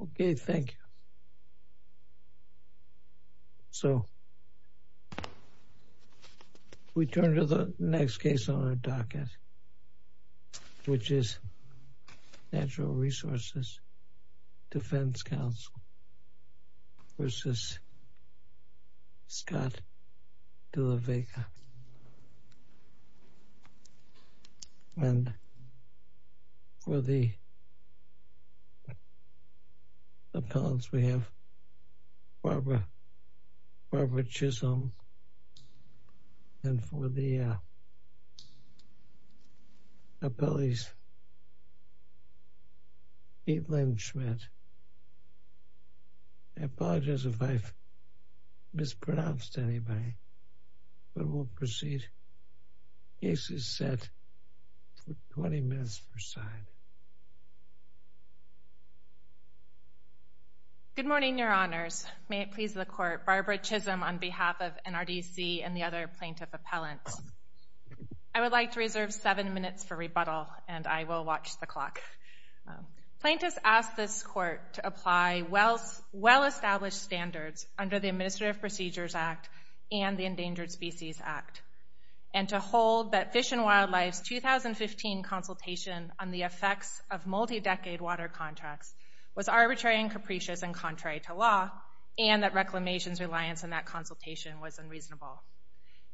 Okay. Thank you. So we turn to the next case on our docket, which is Natural Resources Defense Council v. Scott de la Vega. And for the appellants, we have Barbara Chisholm, and for the appellees, Kaitlin Schmidt. I apologize if I've mispronounced anybody, but we'll proceed. Case is set for 20 minutes per side. Good morning, Your Honors. May it please the Court, Barbara Chisholm on behalf of NRDC and the other plaintiff appellants. I would like to reserve seven minutes for rebuttal, and I will watch the clock. Plaintiffs ask this Court to apply well-established standards under the Administrative Procedures Act and the Endangered Species Act, and to hold that of multi-decade water contracts was arbitrary and capricious and contrary to law, and that reclamation's reliance on that consultation was unreasonable.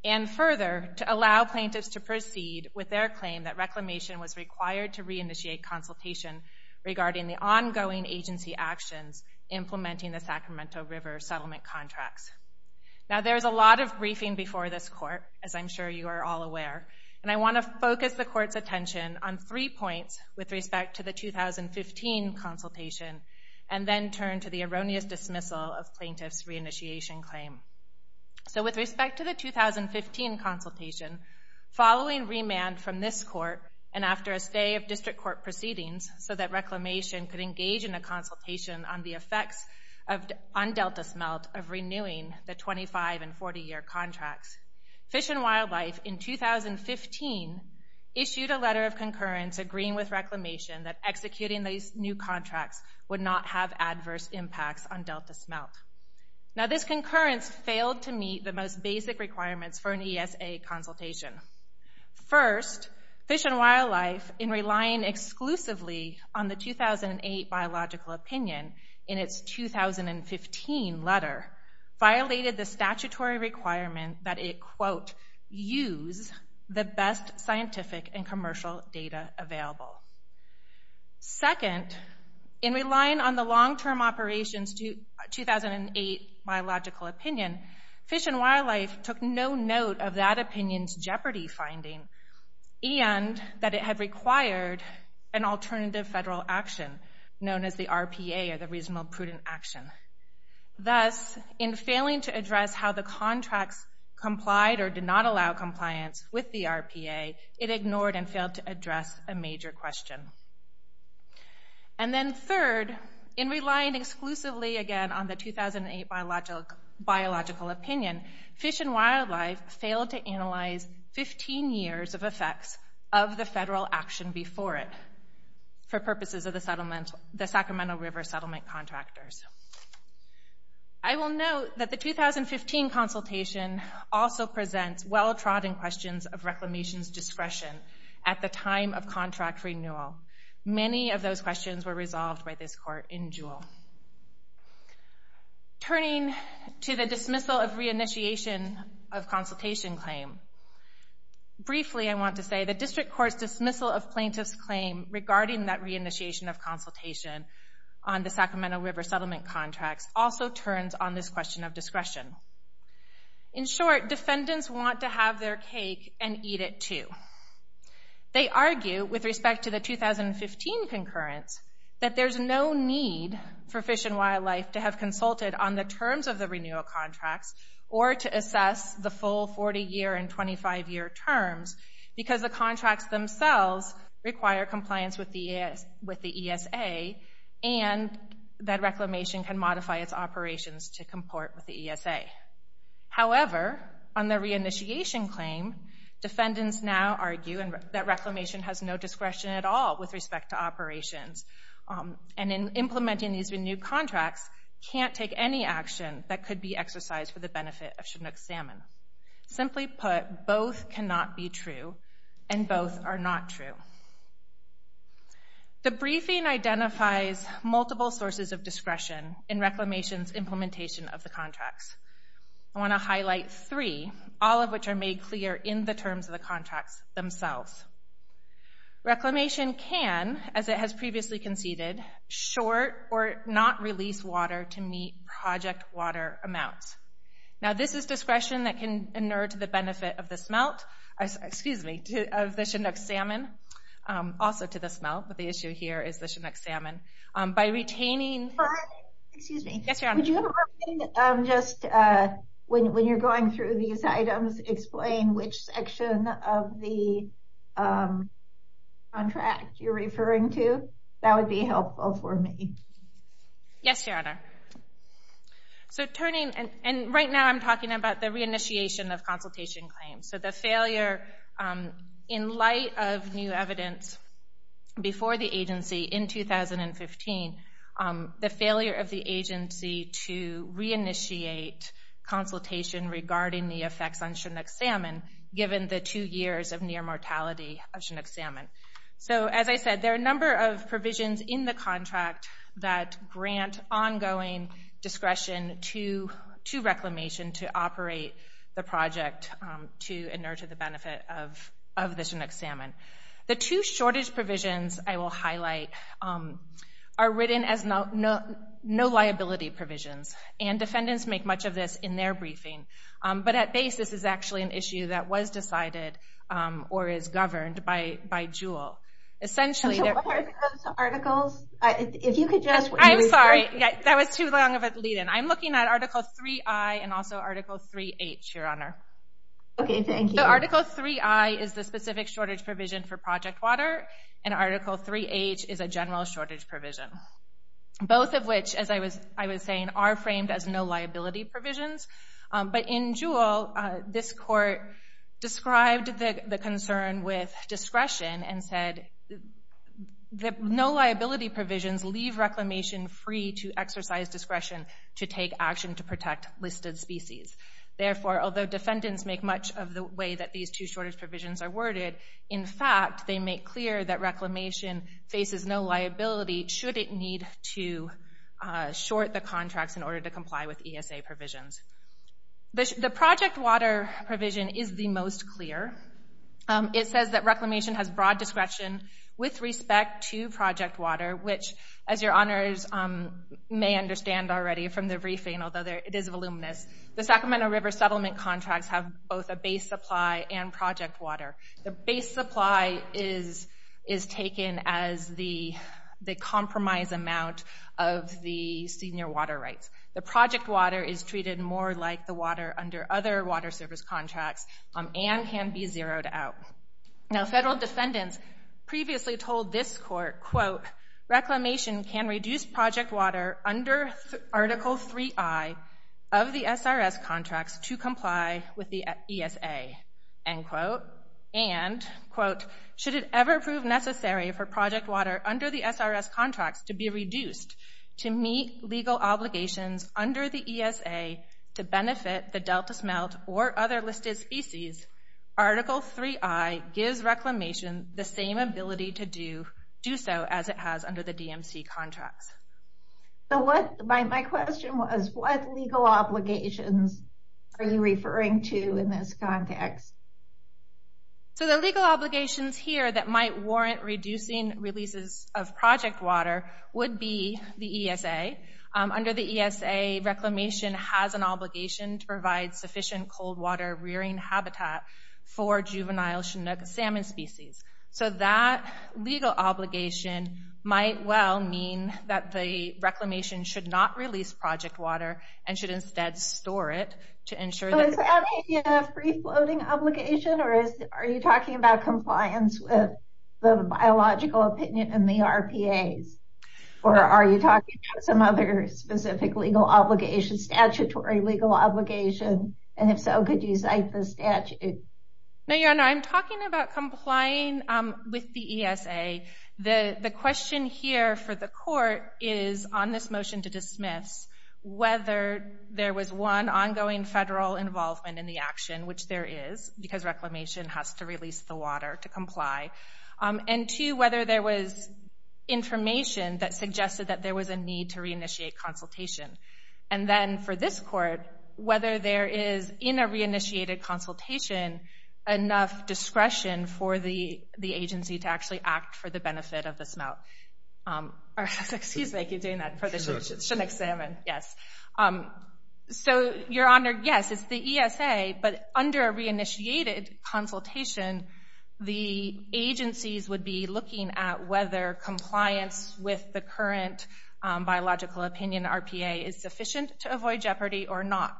And further, to allow plaintiffs to proceed with their claim that reclamation was required to reinitiate consultation regarding the ongoing agency actions implementing the Sacramento River settlement contracts. Now there's a lot of briefing before this Court, as I'm sure you are all aware, and I want to focus the Court's attention on three points with respect to the 2015 consultation, and then turn to the erroneous dismissal of plaintiffs' reinitiation claim. So with respect to the 2015 consultation, following remand from this Court and after a stay of district court proceedings so that reclamation could engage in a consultation on the effects on issued a letter of concurrence agreeing with reclamation that executing these new contracts would not have adverse impacts on Delta smelt. Now this concurrence failed to meet the most basic requirements for an ESA consultation. First, Fish and Wildlife, in relying exclusively on the 2008 biological opinion in its 2015 letter, violated the statutory requirement that it, quote, use the best scientific and commercial data available. Second, in relying on the long-term operations 2008 biological opinion, Fish and Wildlife took no note of that opinion's jeopardy finding and that it had required an alternative federal action, known as the RPA or the Reasonable Prudent Action. Thus, in failing to address how the contracts complied or did not allow compliance with the RPA, it ignored and failed to address a major question. And then third, in relying exclusively again on the 2008 biological opinion, Fish and Wildlife failed to analyze 15 years of effects of the federal action before it was considered for purposes of the Sacramento River Settlement Contractors. I will note that the 2015 consultation also presents well-trodden questions of reclamation's discretion at the time of contract renewal. Many of those questions were resolved by this court in Juul. Turning to the dismissal of reinitiation of consultation claim, briefly I want to say the District Court's dismissal of plaintiff's claim regarding that reinitiation of consultation on the Sacramento River Settlement Contracts also turns on this question of discretion. In short, defendants want to have their cake and eat it too. They argue with respect to the 2015 concurrence that there's no need for Fish and Wildlife to have consulted on the terms of the renewal because the contracts themselves require compliance with the ESA and that reclamation can modify its operations to comport with the ESA. However, on the reinitiation claim, defendants now argue that reclamation has no discretion at all with respect to operations. And in implementing these renewed contracts, can't take any action that could be exercised for the benefit of the smelt. The briefing identifies multiple sources of discretion in reclamation's implementation of the contracts. I want to highlight three, all of which are made clear in the terms of the contracts themselves. Reclamation can, as it has previously conceded, short or not release water to meet project water amounts. Now this is discretion that can inert the smelt, excuse me, of the Chinook salmon, also to the smelt, but the issue here is the Chinook salmon. By retaining... Excuse me. Yes, Your Honor. Would you have a moment, just when you're going through these items, explain which section of the contract you're referring to? That would be helpful for me. Yes, Your Honor. So turning, and right now I'm talking about the reinitiation of consultation claims. So the failure, in light of new evidence before the agency in 2015, the failure of the agency to reinitiate consultation regarding the effects on Chinook salmon, given the two years of near mortality of Chinook salmon. So as I said, there are a number of provisions in the contract that grant ongoing discretion to reclamation to operate the project. To inert to the benefit of the Chinook salmon. The two shortage provisions I will highlight are written as no liability provisions, and defendants make much of this in their briefing. But at base, this is actually an issue that was decided or is governed by JUUL. So what are those articles? If you could just... I'm sorry, that was too long of a lead in. I'm looking at Article 3i and also Article 3h, Your Honor. Okay, thank you. So Article 3i is the specific shortage provision for project water, and Article 3h is a general shortage provision. Both of which, as I was saying, are framed as no liability provisions. But in JUUL, this court described the concern with discretion and said that no liability provisions leave reclamation free to exercise discretion to take action to protect listed species. Therefore, although defendants make much of the way that these two shortage provisions are worded, in fact, they make clear that reclamation faces no liability should it need to short the contracts in order to comply with ESA provisions. The project water provision is the most clear. It says that reclamation has broad discretion with respect to project water, which, as Your Honors may understand already from the briefing, although it is voluminous, the Sacramento River settlement contracts have both a base supply and project water. The base supply is taken as the compromise amount of the senior water rights. The project water is treated more like the water under other water service contracts and can be zeroed out. Now federal defendants previously told this court, quote, reclamation can reduce project water under Article 3i of the SRS contracts to comply with the ESA, end quote. And, quote, should it ever prove necessary for project water under the SRS contracts to be reduced to meet legal obligations under the ESA to benefit the delta smelt or other listed species, Article 3i gives reclamation the same ability to do so as it has under the DMC contracts. So what, my question was, what legal obligations are you referring to in this context? So the legal obligations here that might warrant reducing releases of project water would be the ESA. Under the ESA, reclamation has an obligation to provide sufficient cold water rearing habitat for juvenile Chinook salmon species. So that legal obligation might well mean that the reclamation should not release project water and should instead store it to ensure that... So is that a free-floating obligation or are you talking about compliance with the biological opinion in the RPAs? Or are you talking about some other specific legal obligation, statutory legal obligation? And if so, could you cite the statute? No, Your Honor, I'm talking about complying with the ESA. The question here for the court is on this motion to dismiss whether there was one, ongoing federal involvement in the action, which there is, because reclamation has to release the water to comply. And two, whether there was information that suggested that there was a need to reinitiate consultation. And then for this court, whether there is, in a reinitiated consultation, enough discretion for the agency to actually act for the benefit of the smelt. Excuse me, I keep doing that for the Chinook salmon. Yes. So, Your Honor, yes, it's the ESA, but under a reinitiated consultation, the agencies would be looking at whether compliance with the current biological opinion RPA is sufficient to avoid jeopardy or not.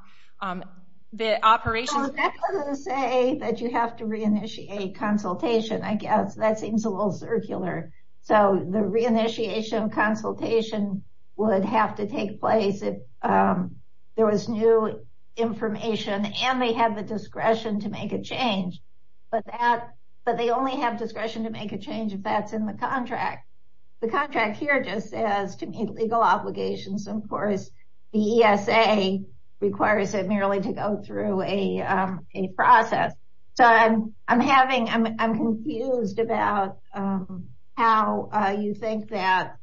The operations... So, that doesn't say that you have to reinitiate consultation, I guess. That seems a little circular. So, the reinitiation of consultation would have to take place if there was new information and they have the discretion to make a change. But they only have discretion to make a change if that's in the contract. The contract here just says to meet legal obligations. Of course, the ESA requires it merely to go through a process. So, I'm having... I'm confused about how you think that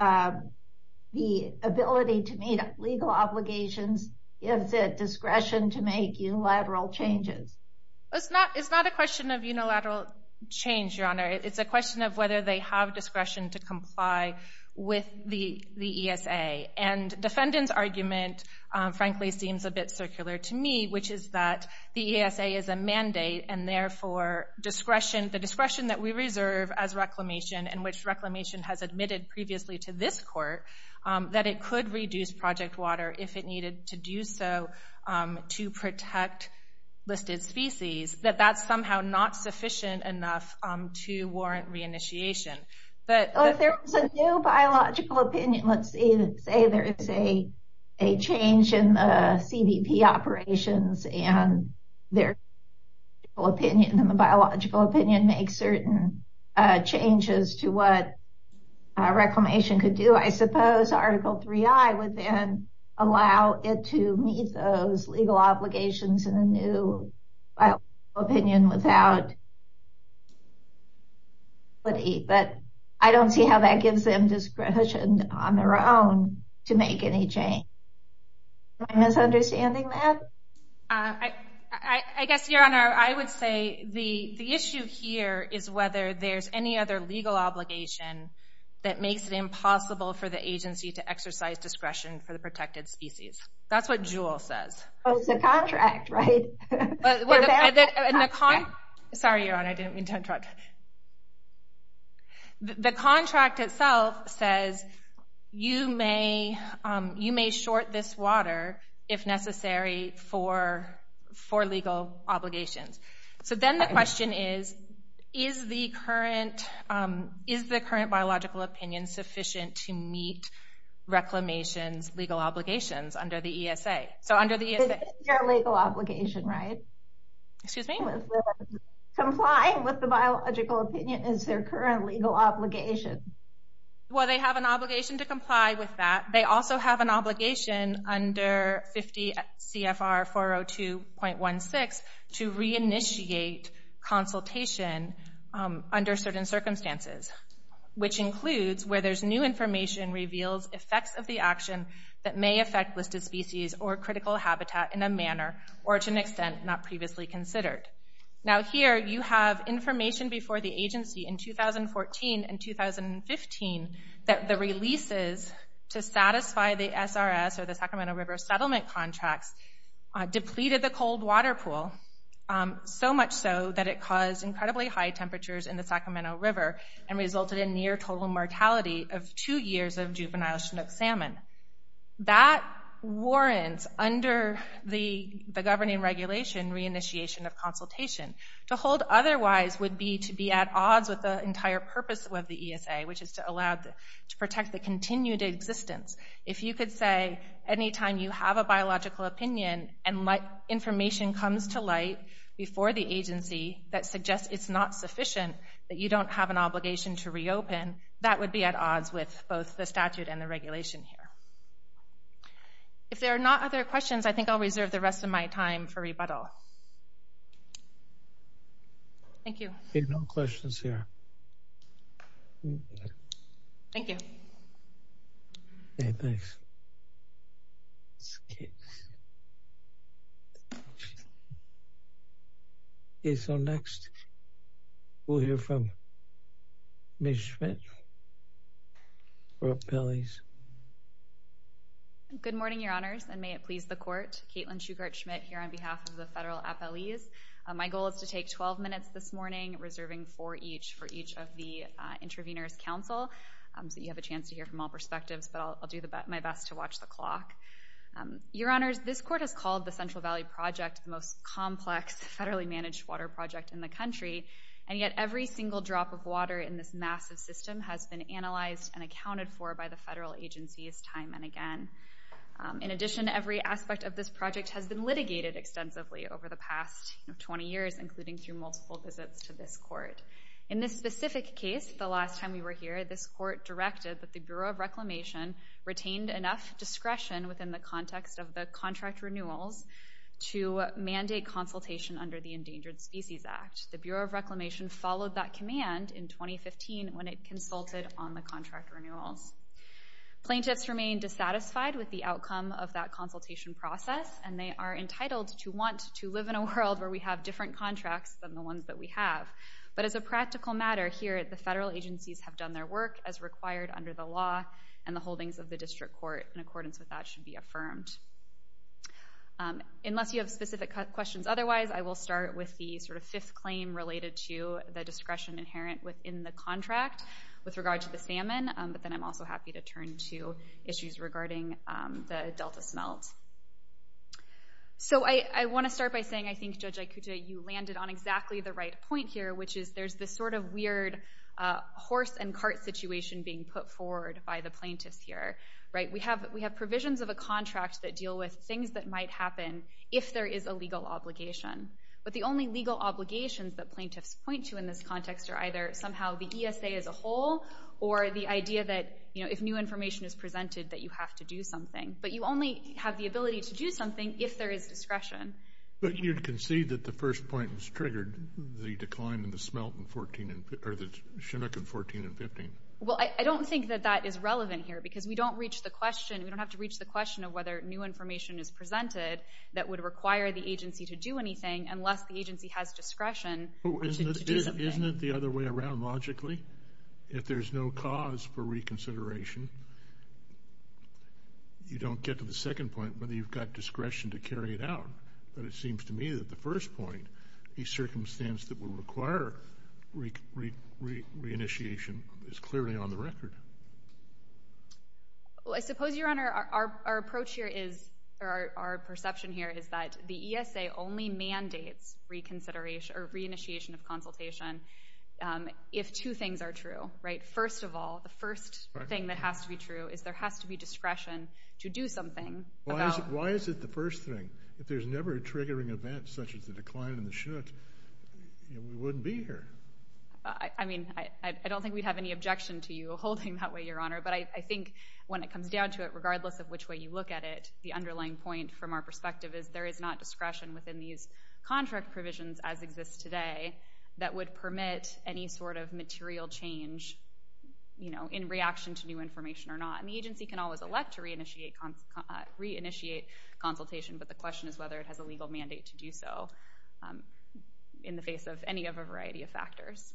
the ability to meet legal obligations gives it discretion to make unilateral changes. It's not a question of unilateral change, Your Honor. It's a question of whether they have discretion to comply with the ESA. And defendant's argument, frankly, seems a bit circular to me, which is that the ESA is a mandate, and therefore, the discretion that we reserve as reclamation, and which reclamation has admitted previously to this court, that it could reduce project water if it needed to do so to protect listed species, that that's somehow not sufficient enough to warrant reinitiation. Well, if there was a new biological opinion, let's say there is a change in the CBP operations and their biological opinion makes certain changes to what reclamation could do. I suppose Article 3i would then allow it to meet those legal obligations in a new biological opinion without... But I don't see how that gives them discretion on their own to make any change. Am I misunderstanding that? I guess, Your Honor, I would say the issue here is whether there's any other legal obligation that makes it impossible for the agency to exercise discretion for the protected species. That's what Jewell says. Oh, it's the contract, right? Sorry, Your Honor, I didn't mean to interrupt. The contract itself says you may short this water if necessary for legal obligations. So then the question is, is the current ESA biological opinion sufficient to meet reclamation's legal obligations under the ESA? So under the ESA... This is their legal obligation, right? Excuse me? Complying with the biological opinion is their current legal obligation. Well, they have an obligation to comply with that. They also have an obligation under 50 CFR 402.16 to reinitiate consultation under certain circumstances. Which includes where there's new information reveals effects of the action that may affect listed species or critical habitat in a manner or to an extent not previously considered. Now here you have information before the agency in 2014 and 2015 that the releases to satisfy the SRS or the Sacramento River Settlement Contracts depleted the cold water pool. So much so that it caused incredibly high temperatures in the Sacramento River and resulted in near total mortality of two years of juvenile Chinook salmon. That warrants under the governing regulation reinitiation of consultation. To hold otherwise would be to be at odds with the entire purpose of the ESA, which is to allow to protect the continued existence. If you could say anytime you have a biological opinion and information comes to light before the agency that suggests it's not sufficient, that you don't have an obligation to reopen, that would be at odds with both the statute and the regulation here. If there are not other questions, I think I'll reserve the rest of my time for rebuttal. Thank you. Okay, no questions here. Thank you. Okay, thanks. Okay, so next we'll hear from Ms. Schmidt for appellees. Good morning, Your Honors. And may it please the Court. Caitlin Shugart Schmidt here on behalf of the federal appellees. My goal is to take 12 minutes this morning, reserving four each for each of the intervenors' counsel. So you have a chance to hear from all perspectives, but I'll do my best to watch the clock. Your Honors, this Court has called the Central Valley Project the most complex federally-managed water project in the country, and yet every single drop of water in this massive system has been analyzed and accounted for by the federal agencies time and again. In addition, every aspect of this project has been litigated extensively over the past 20 years, including through multiple visits to this Court. In this specific case, the last time we were here, this Court directed that the Bureau of Reclamation retained enough discretion within the context of the contract renewals to mandate consultation under the Endangered Species Act. The Bureau of Reclamation followed that command in 2015 when it consulted on the contract renewals. Plaintiffs remain dissatisfied with the outcome of that consultation process, and they are entitled to want to live in a world where we have different contracts than the ones that we have. But as a practical matter, here the federal agencies have done their work as required under the law, and the holdings of the District Court in accordance with that should be affirmed. Unless you have specific questions otherwise, I will start with the sort of fifth claim related to the discretion inherent within the contract with regard to the salmon, but then I'm also happy to turn to issues regarding the Delta smelt. So I want to start by saying I think, Judge Aikuta, you landed on exactly the right point here, which is there's this sort of weird horse and cart situation being put forward by the plaintiffs here. We have provisions of a contract that deal with things that might happen if there is a legal obligation, but the only legal obligations that plaintiffs point to in this context are either somehow the ESA as a whole or the idea that if new information is presented that you have to do something. But you only have the ability to do something if there is discretion. But you'd concede that the first point was triggered, the decline in the smelt in 14 and 15, or the chinook in 14 and 15. Well, I don't think that that is relevant here because we don't reach the question, we don't have to reach the question of whether new information is presented that would require the agency to do anything unless the agency has discretion to do something. Isn't it the other way around logically? If there's no cause for reconsideration, you don't get to the second point, whether you've got discretion to carry it out. But it seems to me that the first point, the circumstance that would require re-initiation is clearly on the record. Well, I suppose, Your Honor, our approach here is, or our perception here is that the ESA only mandates re-initiation of consultation if two things are true. First of all, the first thing that has to be true is there has to be discretion to do something. Why is it the first thing? If there's never a triggering event such as the decline in the chinook, we wouldn't be here. I mean, I don't think we'd have any objection to you holding that way, Your Honor. But I think when it comes down to it, regardless of which way you look at it, the underlying point from our perspective is there is not discretion within these contract provisions as exists today that would permit any sort of material change in reaction to new information or not. And the agency can always elect to re-initiate consultation, but the question is whether it has a legal mandate to do so in the face of any of a variety of factors.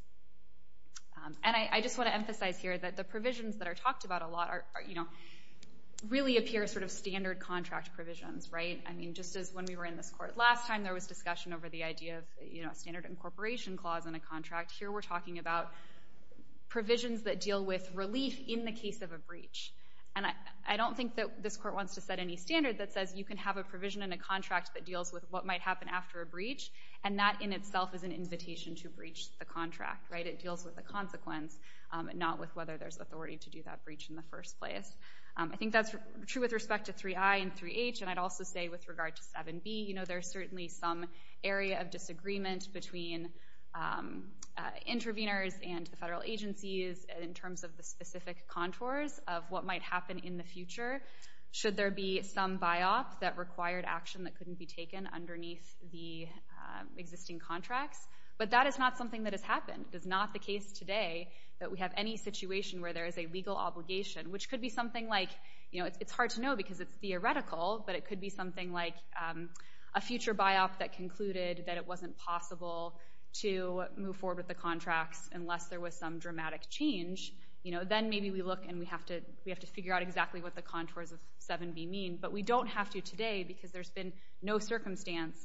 And I just want to emphasize here that the provisions that are talked about a lot really appear sort of standard contract provisions, right? I mean, just as when we were in this court last time, there was discussion over the idea of a standard incorporation clause in a contract. Here we're talking about provisions that deal with relief in the case of a breach. And I don't think that this court wants to set any standard that says you can have a provision in a contract that deals with what might happen after a breach, and that in itself is an invitation to breach the contract. It deals with the consequence, not with whether there's authority to do that breach in the first place. I think that's true with respect to 3I and 3H, and I'd also say with regard to 7B, there's certainly some area of disagreement between interveners and the federal agencies in terms of the specific contours of what might happen in the future should there be some buy-off that required action that couldn't be taken underneath the existing contracts. But that is not something that has happened. It is not the case today that we have any situation where there is a legal obligation, which could be something like, you know, it's hard to know because it's theoretical, but it could be something like a future buy-off that concluded that it wasn't possible to move forward with the contracts unless there was some dramatic change. Then maybe we look and we have to figure out exactly what the contours of 7B mean. But we don't have to today because there's been no circumstance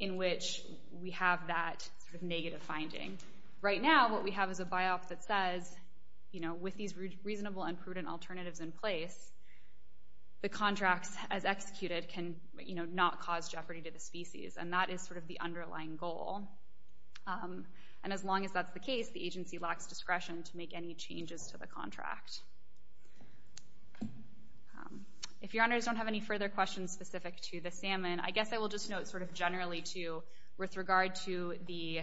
in which we have that sort of negative finding. Right now what we have is a buy-off that says, you know, with these reasonable and prudent alternatives in place, the contracts as executed can, you know, not cause jeopardy to the species, and that is sort of the underlying goal. And as long as that's the case, the agency lacks discretion to make any changes to the contract. If your honors don't have any further questions specific to the salmon, I guess I will just note sort of generally too with regard to the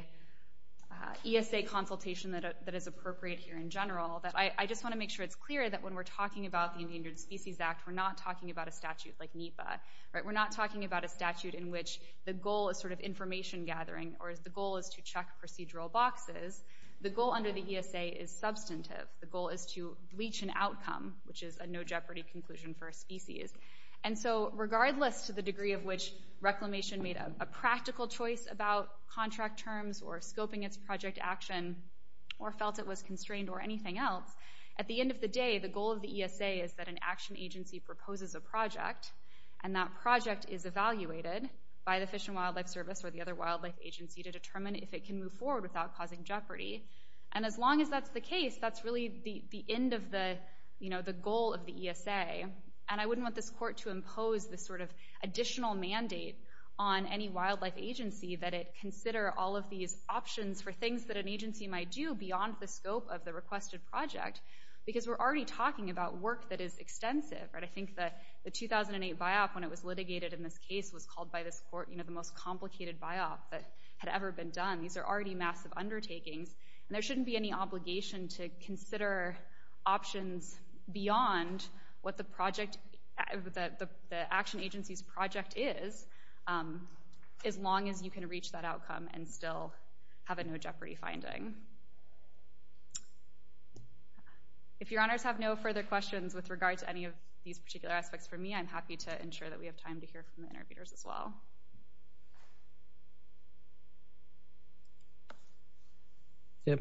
ESA consultation that is appropriate here in general that I just want to make sure it's clear that when we're talking about the Endangered Species Act, we're not talking about a statute like NEPA. We're not talking about a statute in which the goal is sort of information gathering or the goal is to check procedural boxes. The goal under the ESA is substantive. The goal is to bleach an outcome, which is a no-jeopardy conclusion for a species. And so regardless to the degree of which Reclamation made a practical choice about contract terms or scoping its project action or felt it was constrained or anything else, at the end of the day, the goal of the ESA is that an action agency proposes a project, and that project is evaluated by the Fish and Wildlife Service or the other wildlife agency to determine if it can move forward without causing jeopardy. And as long as that's the case, that's really the end of the goal of the ESA. And I wouldn't want this court to impose this sort of additional mandate on any wildlife agency that it consider all of these options for things that an agency might do beyond the scope of the requested project because we're already talking about work that is extensive. I think the 2008 buyout when it was litigated in this case was called by this court the most complicated buyout that had ever been done. These are already massive undertakings, and there shouldn't be any obligation to consider options beyond what the action agency's project is as long as you can reach that outcome and still have a no-jeopardy finding. If your honors have no further questions with regard to any of these particular aspects for me, I'm happy to ensure that we have time to hear from the interviewers as well. Yep.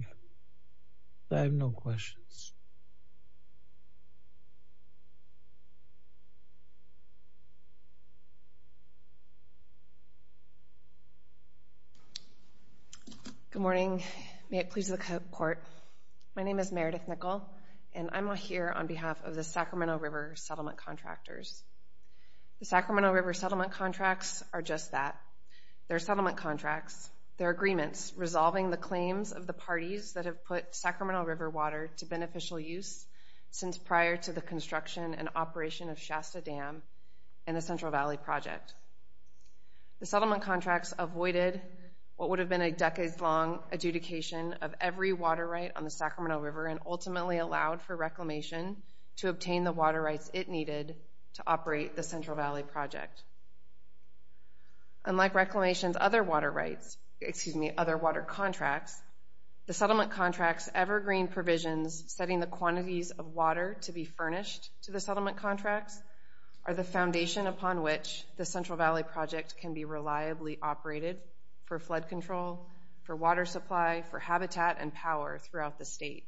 I have no questions. Good morning. May it please the court. My name is Meredith Nickel, and I'm here on behalf of the Sacramento River Settlement Contractors. The Sacramento River Settlement Contracts are just that. They're settlement contracts. They're agreements resolving the claims of the parties that have put Sacramento River water to beneficial use since prior to the construction and operation of Shasta Dam and the Central Valley Project. The settlement contracts avoided what would have been a decades-long adjudication of every water right on the Sacramento River and ultimately allowed for Reclamation to obtain the water rights it needed to operate the Central Valley Project. Unlike Reclamation's other water rights, excuse me, other water contracts, the settlement contracts' evergreen provisions setting the quantities of water to be furnished to the settlement contracts are the foundation upon which the Central Valley Project can be reliably operated for flood control, for water supply, for habitat and power throughout the state.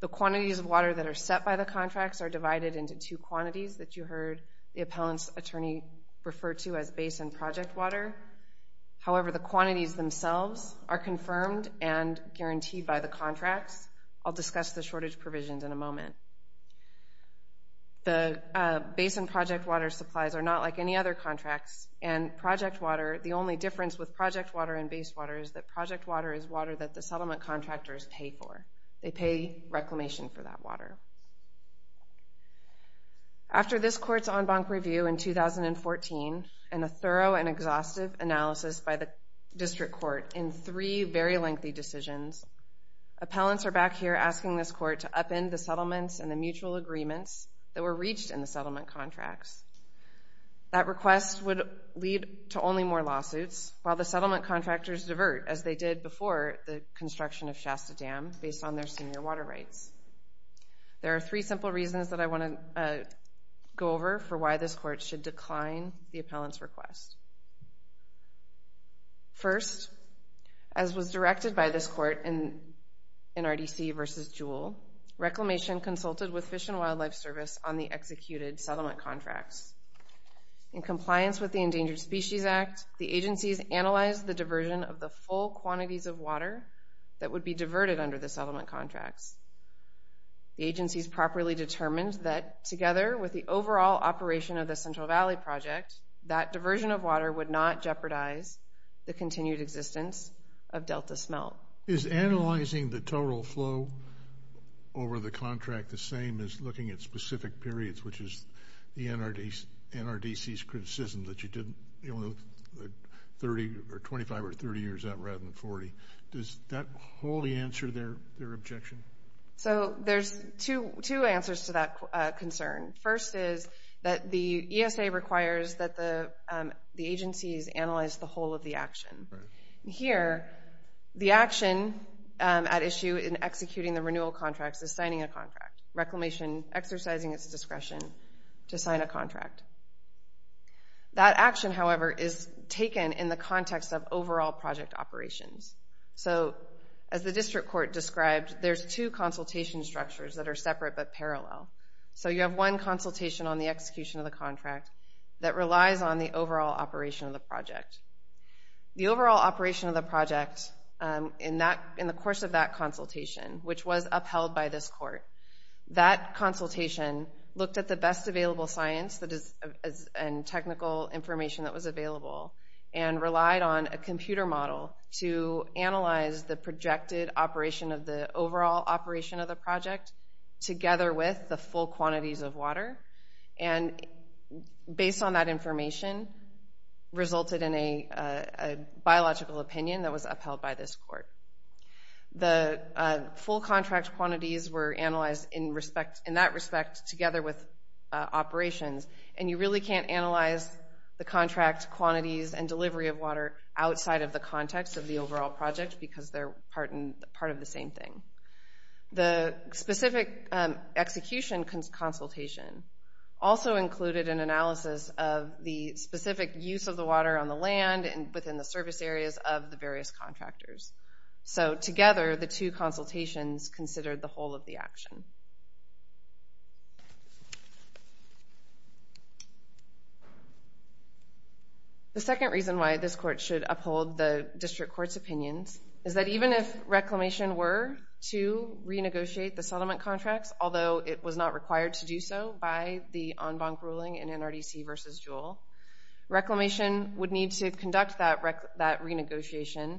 The quantities of water that are set by the contracts are divided into two quantities that you heard the appellant's attorney refer to as basin project water. However, the quantities themselves are confirmed and guaranteed by the contracts. The basin project water supplies are not like any other contracts and project water, the only difference with project water and base water is that project water is water that the settlement contractors pay for. They pay Reclamation for that water. After this court's en banc review in 2014 and a thorough and exhaustive analysis by the district court in three very lengthy decisions, appellants are back here asking this court to upend the settlements and the mutual agreements that were reached in the settlement contracts. That request would lead to only more lawsuits while the settlement contractors divert as they did before the construction of Shasta Dam based on their senior water rights. There are three simple reasons that I want to go over for why this court should decline the appellant's request. First, as was directed by this court in RDC v. Jewell, Reclamation consulted with Fish and Wildlife Service on the executed settlement contracts. In compliance with the Endangered Species Act, the agencies analyzed the diversion of the full quantities of water that would be diverted under the settlement contracts. The agencies properly determined that together with the overall operation of the Central Valley Project, that diversion of water would not jeopardize the continued existence of Delta Smelt. Is analyzing the total flow over the contract the same as looking at specific periods, which is the NRDC's criticism that you didn't look at 25 or 30 years out rather than 40? Does that wholly answer their objection? There's two answers to that concern. First is that the ESA requires that the agencies analyze the whole of the action. Here, the action at issue in executing the renewal contracts is signing a contract. Reclamation exercising its discretion to sign a contract. That action, however, is taken in the context of overall project operations. As the district court described, there's two consultation structures that are separate but parallel. So you have one consultation on the execution of the contract that relies on the overall operation of the project. The overall operation of the project in the course of that consultation, which was upheld by this court, that consultation looked at the best available science and technical information that was available and relied on a computer model to analyze the projected operation of the overall operation of the project together with the full quantities of water. And based on that information resulted in a biological opinion that was upheld by this court. The full contract quantities were analyzed in that respect together with operations. And you really can't analyze the contract quantities and delivery of water outside of the context of the overall project because they're part of the same thing. The specific execution consultation also included an analysis of the specific use of the water on the land and within the service areas of the various contractors. So together, the two consultations considered the whole of the action. The second reason why this court should uphold the district court's opinions is that even if reclamation were to renegotiate the settlement contracts, although it was not required to do so by the en banc ruling in NRDC v. Jewell, reclamation would need to conduct that renegotiation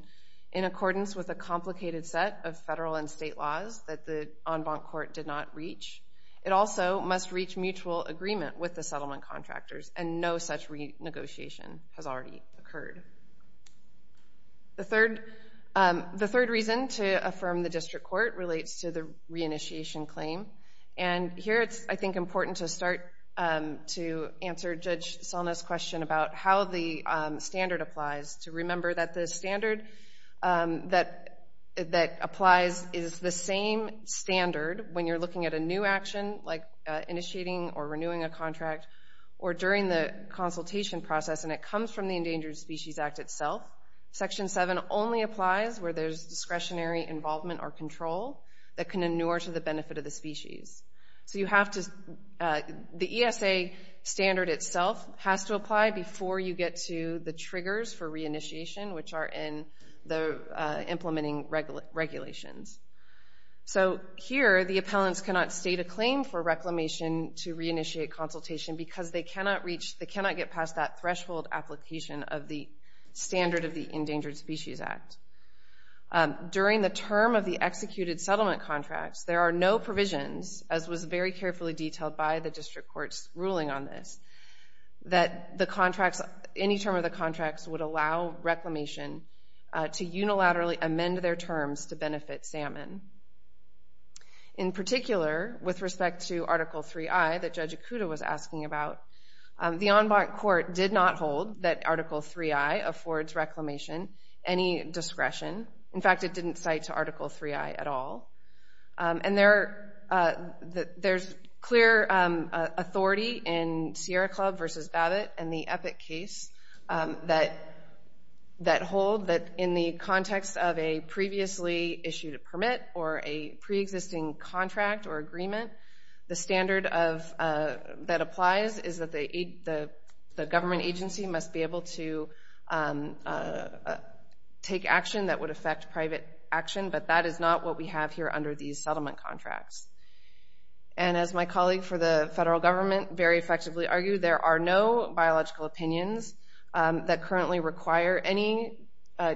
in accordance with a complicated set of federal and state laws that the en banc court did not reach. It also must reach mutual agreement with the settlement contractors, and no such renegotiation has already occurred. The third reason to affirm the district court relates to the reinitiation claim. And here it's, I think, important to start to answer Judge Salna's question about how the standard applies, to remember that the standard that applies is the same standard when you're looking at a new action, like initiating or renewing a contract, or during the consultation process, and it comes from the Endangered Species Act itself. Section 7 only applies where there's discretionary involvement or control that can inure to the benefit of the species. So the ESA standard itself has to apply before you get to the triggers for reinitiation, which are in the implementing regulations. So here the appellants cannot state a claim for reclamation to reinitiate consultation because they cannot get past that threshold application of the standard of the Endangered Species Act. During the term of the executed settlement contracts, there are no provisions, as was very carefully detailed by the district court's ruling on this, that any term of the contracts would allow reclamation to unilaterally amend their terms to benefit salmon. In particular, with respect to Article 3i that Judge Ikuda was asking about, the en banc court did not hold that Article 3i affords reclamation any discretion. In fact, it didn't cite to Article 3i at all. And there's clear authority in Sierra Club v. Babbitt and the Epic case that hold that in the context of a previously issued permit or a preexisting contract or agreement, the standard that applies is that the government agency must be able to take action that would affect private action, but that is not what we have here under these settlement contracts. And as my colleague for the federal government very effectively argued, there are no biological opinions that currently require any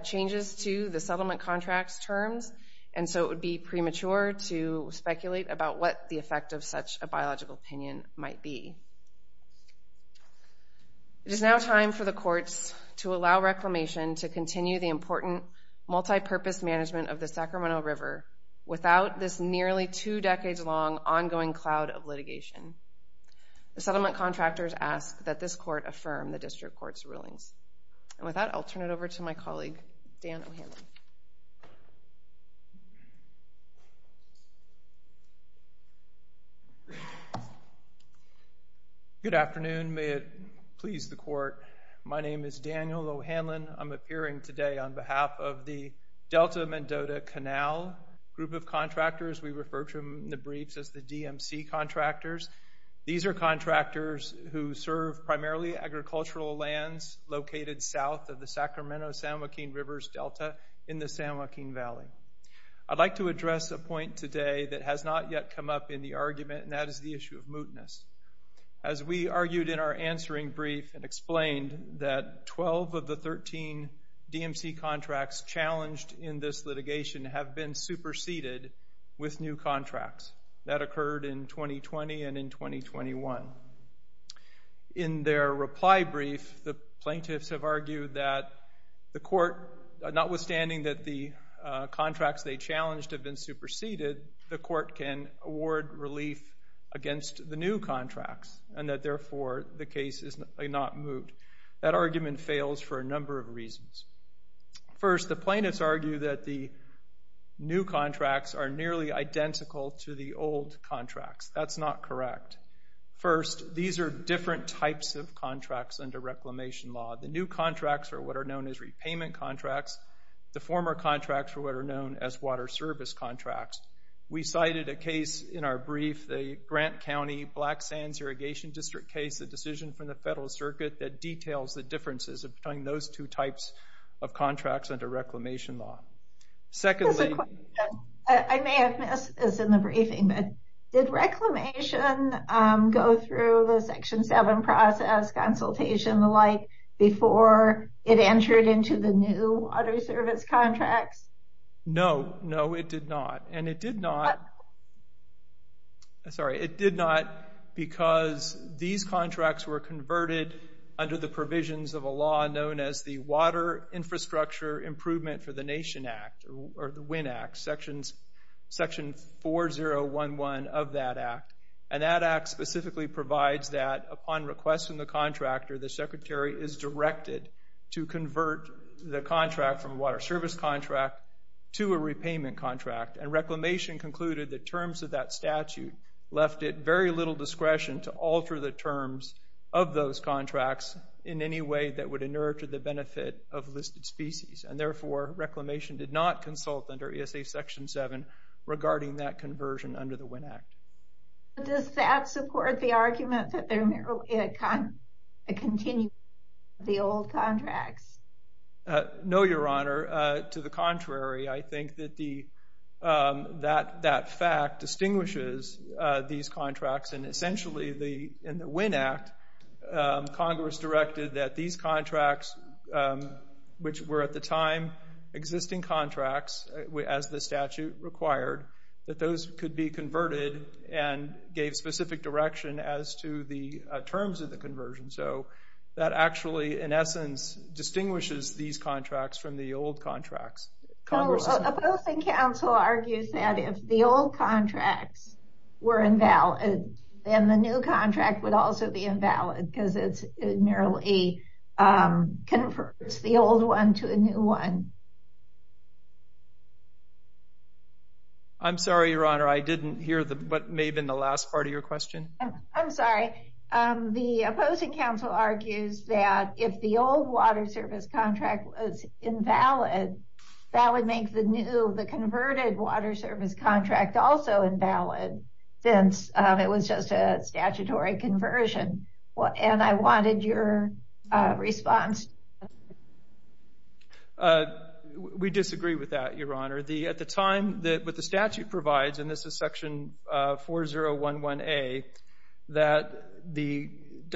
changes to the settlement contracts terms, and so it would be premature to speculate about what the effect of such a biological opinion might be. It is now time for the courts to allow reclamation to continue the important multipurpose management of the Sacramento River without this nearly two decades long ongoing cloud of litigation. The settlement contractors ask that this court affirm the district court's rulings. And with that, I'll turn it over to my colleague, Dan O'Hanlon. Good afternoon. May it please the court, my name is Daniel O'Hanlon. I'm appearing today on behalf of the Delta-Mendota Canal group of contractors. We refer to them in the briefs as the DMC contractors. These are contractors who serve primarily agricultural lands located south of the Sacramento-San Joaquin River's delta in the San Joaquin Valley. I'd like to address a point today that has not yet come up in the argument, and that is the issue of mootness. As we argued in our answering brief and explained, that 12 of the 13 DMC contracts challenged in this litigation have been superseded with new contracts. That occurred in 2020 and in 2021. In their reply brief, the plaintiffs have argued that the court, notwithstanding that the contracts they challenged have been superseded, the court can award relief against the new contracts, and that therefore the case is not moot. That argument fails for a number of reasons. First, the plaintiffs argue that the new contracts are nearly identical to the old contracts. That's not correct. First, these are different types of contracts under reclamation law. The new contracts are what are known as repayment contracts. The former contracts are what are known as water service contracts. We cited a case in our brief, the Grant County Black Sands Irrigation District case, a decision from the Federal Circuit that details the differences between those two types of contracts under reclamation law. Secondly... I may have missed this in the briefing, but did reclamation go through the Section 7 process, consultation, the like, before it entered into the new water service contracts? No, no, it did not. And it did not... Sorry, it did not because these contracts were converted under the provisions of a law known as the Water Infrastructure Improvement for the Nation Act, or the WIN Act, Section 4011 of that act. And that act specifically provides that upon request from the contractor, the secretary is directed to convert the contract from a water service contract to a repayment contract. And reclamation concluded that terms of that statute left it very little discretion to alter the terms of those contracts in any way that would inure to the benefit of listed species. And therefore, reclamation did not consult under ESA Section 7 regarding that conversion under the WIN Act. Does that support the argument that there may be a continuation of the old contracts? No, Your Honor. To the contrary, I think that that fact distinguishes these contracts. And essentially, in the WIN Act, Congress directed that these contracts, which were at the time existing contracts as the statute required, that those could be converted and gave specific direction as to the terms of the conversion. So that actually, in essence, distinguishes these contracts from the old contracts. Opposing counsel argues that if the old contracts were invalid, then the new contract would also be invalid because it merely converts the old one to a new one. I'm sorry, Your Honor, I didn't hear what may have been the last part of your question. I'm sorry. The opposing counsel argues that if the old water service contract was invalid, that would make the new, the converted water service contract also invalid since it was just a statutory conversion. And I wanted your response. We disagree with that, Your Honor. At the time that the statute provides, and this is Section 4011A, that the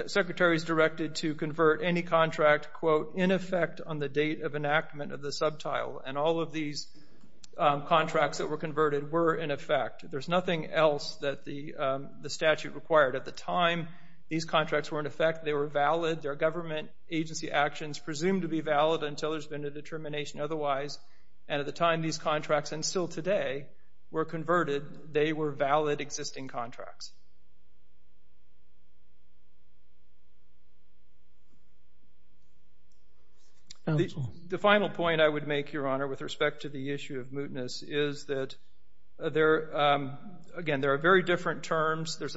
Secretary is directed to convert any contract, quote, in effect on the date of enactment of the sub-tile. And all of these contracts that were converted were in effect. There's nothing else that the statute required. At the time these contracts were in effect, they were valid. Their government agency actions presumed to be valid until there's been a determination otherwise. And at the time these contracts, and still today, were converted, they were valid existing contracts. The final point I would make, Your Honor, with respect to the issue of mootness, is that, again, there are very different terms. There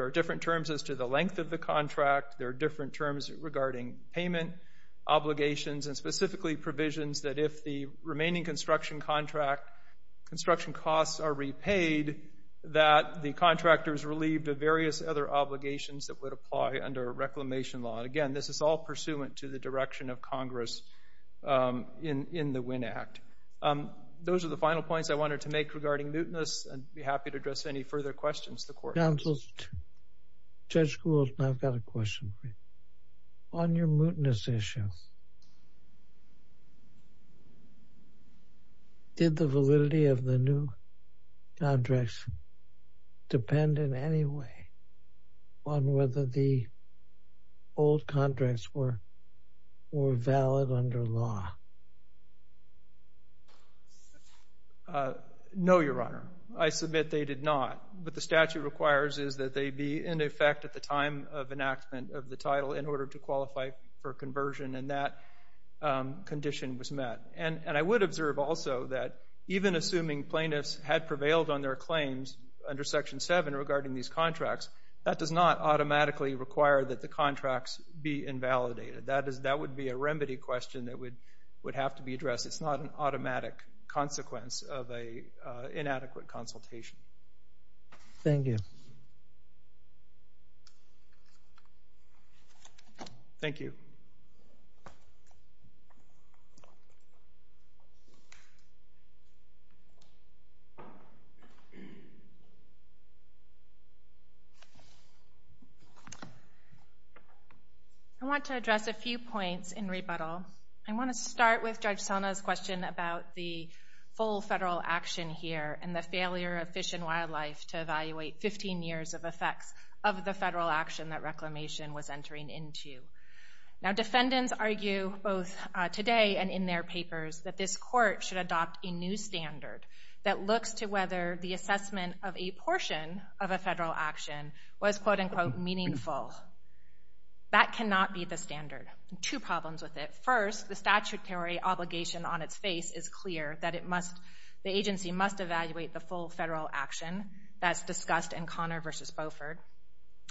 are different terms as to the length of the contract. There are different terms regarding payment obligations and specifically provisions that if the remaining construction contract, construction costs are repaid, that the contractor is relieved of various other obligations that would apply under a reclamation law. And, again, this is all pursuant to the direction of Congress in the Winn Act. Those are the final points I wanted to make regarding mootness. I'd be happy to address any further questions the Court has. Counsel, Judge Gould, I've got a question for you. On your mootness issue, did the validity of the new contracts depend in any way on whether the old contracts were valid under law? No, Your Honor. I submit they did not. What the statute requires is that they be in effect at the time of enactment of the title in order to qualify for conversion, and that condition was met. And I would observe also that even assuming plaintiffs had prevailed on their claims under Section 7 regarding these contracts, that does not automatically require that the contracts be invalidated. That would be a remedy question that would have to be addressed. It's not an automatic consequence of an inadequate consultation. Thank you. Thank you. I want to address a few points in rebuttal. I want to start with Judge Selna's question about the full federal action here and the failure of Fish and Wildlife to evaluate 15 years of effects of the federal action that reclamation was entering into. Now, defendants argue both today and in their papers that this Court should adopt a new standard that looks to whether the assessment of a portion of a federal action was, quote-unquote, meaningful. That cannot be the standard. Two problems with it. First, the statutory obligation on its face is clear that the agency must evaluate the full federal action that's discussed in Connor v. Beaufort.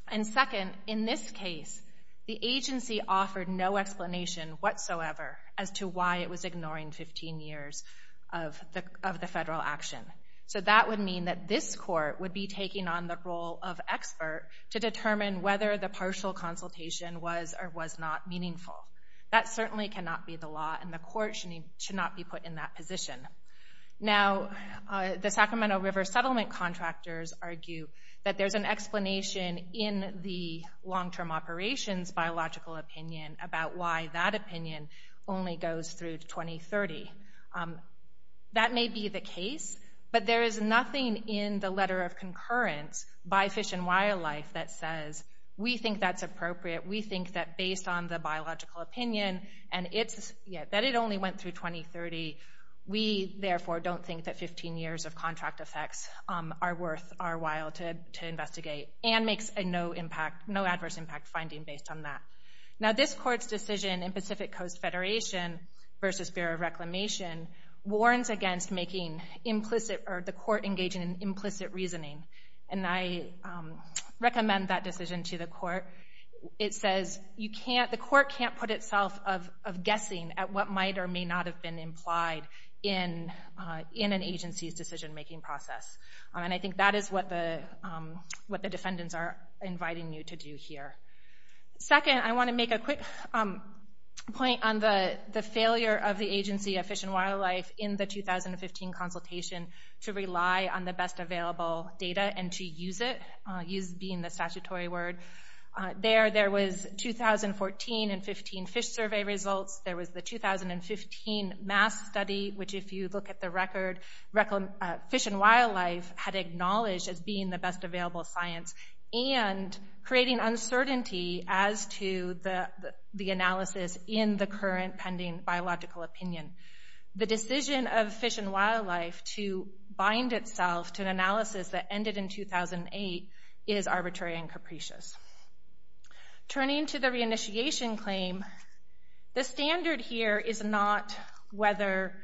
And second, in this case, the agency offered no explanation whatsoever as to why it was ignoring 15 years of the federal action. So that would mean that this Court would be taking on the role of expert to determine whether the partial consultation was or was not meaningful. That certainly cannot be the law, and the Court should not be put in that position. Now, the Sacramento River Settlement contractors argue that there's an explanation in the long-term operations biological opinion about why that opinion only goes through 2030. That may be the case, but there is nothing in the letter of concurrence by Fish and Wildlife that says, we think that's appropriate. We think that based on the biological opinion and that it only went through 2030, we therefore don't think that 15 years of contract effects are worth our while to investigate and makes no adverse impact finding based on that. Now, this Court's decision in Pacific Coast Federation v. Bureau of Reclamation warns against the Court engaging in implicit reasoning, and I recommend that decision to the Court. It says the Court can't put itself of guessing at what might or may not have been implied in an agency's decision-making process. And I think that is what the defendants are inviting you to do here. Second, I want to make a quick point on the failure of the agency of Fish and Wildlife in the 2015 consultation to rely on the best available data and to use it, use being the statutory word. There was 2014 and 2015 fish survey results. There was the 2015 mass study, which if you look at the record, Fish and Wildlife had acknowledged as being the best available science and creating uncertainty as to the analysis in the current pending biological opinion. The decision of Fish and Wildlife to bind itself to an analysis that ended in 2008 is arbitrary and capricious. Turning to the reinitiation claim, the standard here is not whether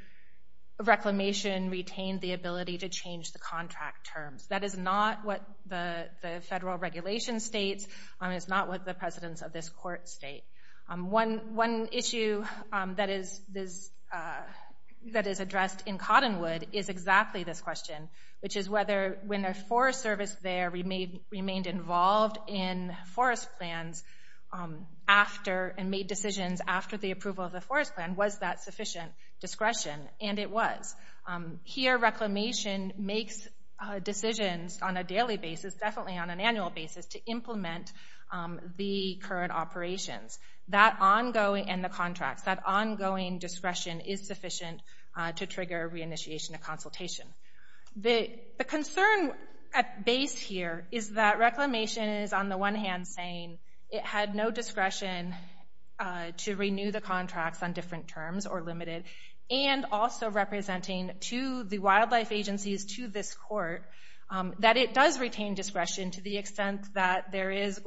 Reclamation retained the ability to change the contract terms. That is not what the federal regulation states. It's not what the precedents of this Court state. One issue that is addressed in Cottonwood is exactly this question, which is whether when the Forest Service there remained involved in forest plans and made decisions after the approval of the forest plan, was that sufficient discretion? And it was. Here, Reclamation makes decisions on a daily basis, definitely on an annual basis, to implement the current operations and the contracts. That ongoing discretion is sufficient to trigger reinitiation of consultation. The concern at base here is that Reclamation is, on the one hand, saying it had no discretion to renew the contracts on different terms or limited, and also representing to the wildlife agencies, to this Court, that it does retain discretion to the extent that there is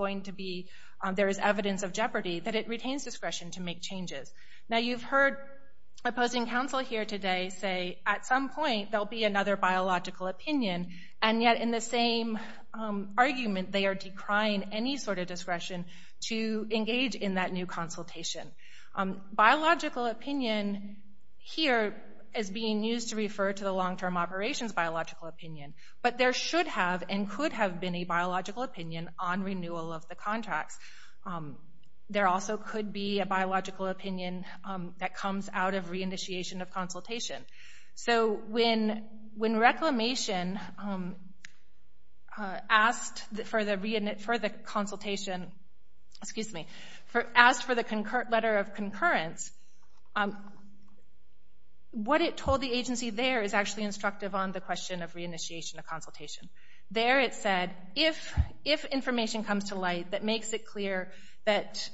evidence of jeopardy, that it retains discretion to make changes. Now, you've heard opposing counsel here today say, at some point there will be another biological opinion, and yet in the same argument they are decrying any sort of discretion to engage in that new consultation. Biological opinion here is being used to refer to the long-term operations biological opinion, but there should have and could have been a biological opinion on renewal of the contracts. There also could be a biological opinion that comes out of reinitiation of consultation. So when Reclamation asked for the consultation, excuse me, asked for the letter of concurrence, what it told the agency there is actually instructive There it said, if information comes to light that makes it clear that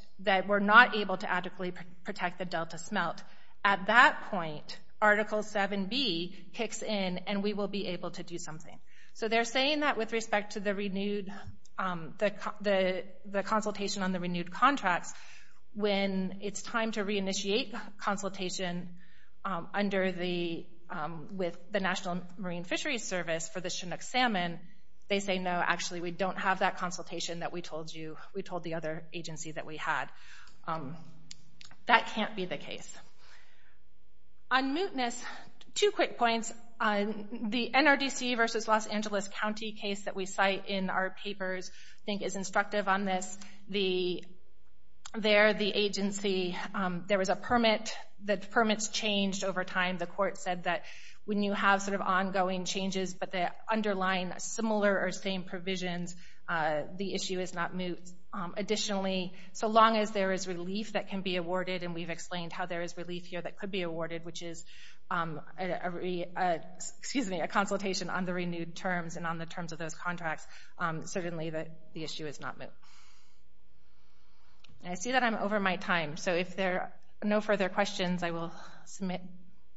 we're not able to adequately protect the delta smelt, at that point Article 7b kicks in and we will be able to do something. So they're saying that with respect to the consultation on the renewed contracts, when it's time to reinitiate consultation with the National Marine Fisheries Service for the Chinook salmon, they say no, actually we don't have that consultation that we told you, we told the other agency that we had. That can't be the case. On mootness, two quick points. The NRDC versus Los Angeles County case that we cite in our papers, I think is instructive on this. There the agency, there was a permit, the permits changed over time. The court said that when you have sort of ongoing changes but they underline similar or same provisions, the issue is not moot. Additionally, so long as there is relief that can be awarded, and we've explained how there is relief here that could be awarded, which is a consultation on the renewed terms and on the terms of those contracts, certainly the issue is not moot. I see that I'm over my time, so if there are no further questions, I will submit,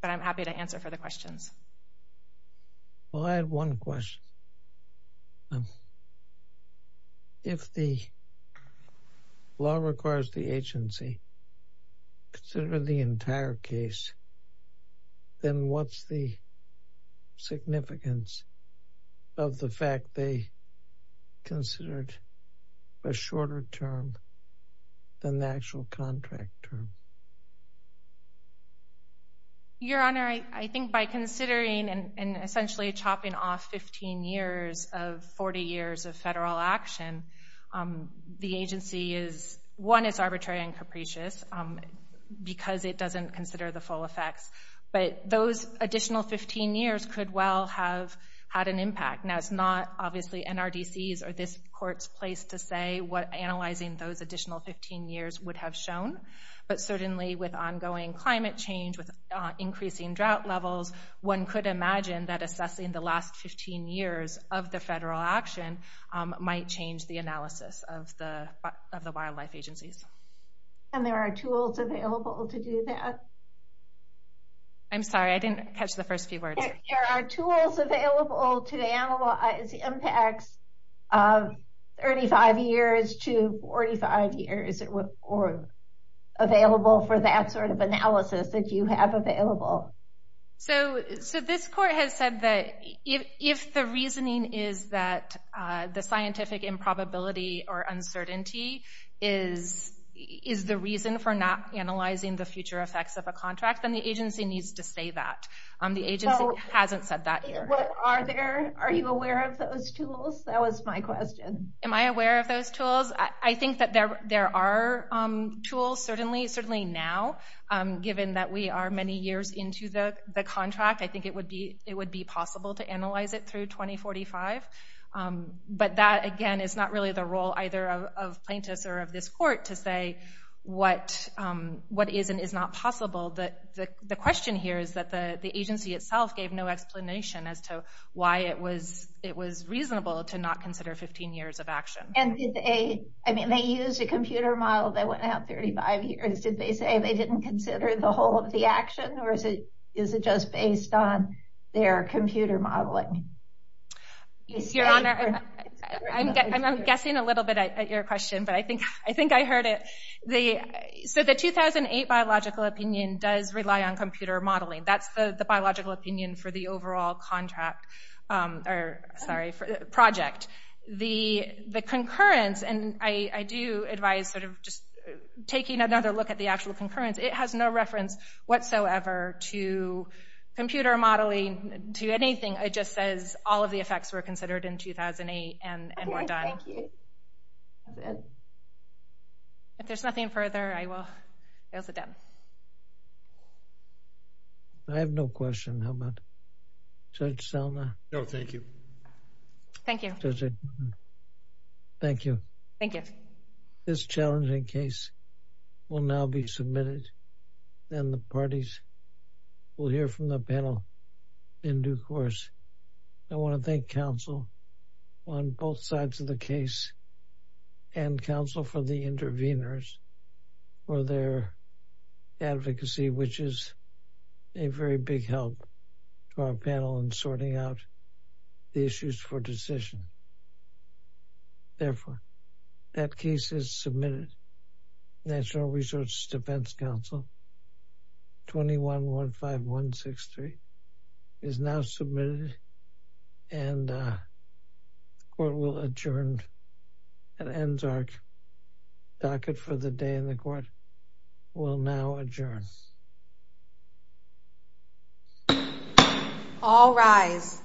but I'm happy to answer further questions. I have one question. If the law requires the agency to consider the entire case, then what's the significance of the fact they considered a shorter term than the actual contract term? Your Honor, I think by considering and essentially chopping off 15 years of 40 years of federal action, the agency is, one, it's arbitrary and capricious because it doesn't consider the full effects, but those additional 15 years could well have had an impact. Now, it's not obviously NRDC's or this court's place to say what analyzing those additional 15 years would have shown, but certainly with ongoing climate change, with increasing drought levels, one could imagine that assessing the last 15 years of the federal action might change the analysis of the wildlife agencies. And there are tools available to do that? I'm sorry, I didn't catch the first few words. There are tools available to analyze impacts of 35 years to 45 years or available for that sort of analysis that you have available. So this court has said that if the reasoning is that the scientific improbability or uncertainty is the reason for not analyzing the future effects of a contract, then the agency needs to say that. The agency hasn't said that here. Are you aware of those tools? That was my question. Am I aware of those tools? I think that there are tools, certainly now, given that we are many years into the contract. I think it would be possible to analyze it through 2045. But that, again, is not really the role either of plaintiffs or of this court to say what is and is not possible. The question here is that the agency itself gave no explanation as to why it was reasonable to not consider 15 years of action. They used a computer model that went out 35 years. Did they say they didn't consider the whole of the action, or is it just based on their computer modeling? Your Honor, I'm guessing a little bit at your question, but I think I heard it. The 2008 biological opinion does rely on computer modeling. That's the biological opinion for the overall project. The concurrence, and I do advise taking another look at the actual concurrence, it has no reference whatsoever to computer modeling, to anything. It just says all of the effects were considered in 2008 and were done. Thank you. If there's nothing further, I will sit down. I have no question. How about Judge Selma? No, thank you. Thank you. Thank you. Thank you. This challenging case will now be submitted, and the parties will hear from the panel in due course. I want to thank counsel on both sides of the case and counsel for the interveners for their advocacy, which is a very big help to our panel in sorting out the issues for decision. Therefore, that case is submitted. National Research Defense Council 2115163 is now submitted, and the court will adjourn. An NSARC docket for the day in the court will now adjourn. All rise.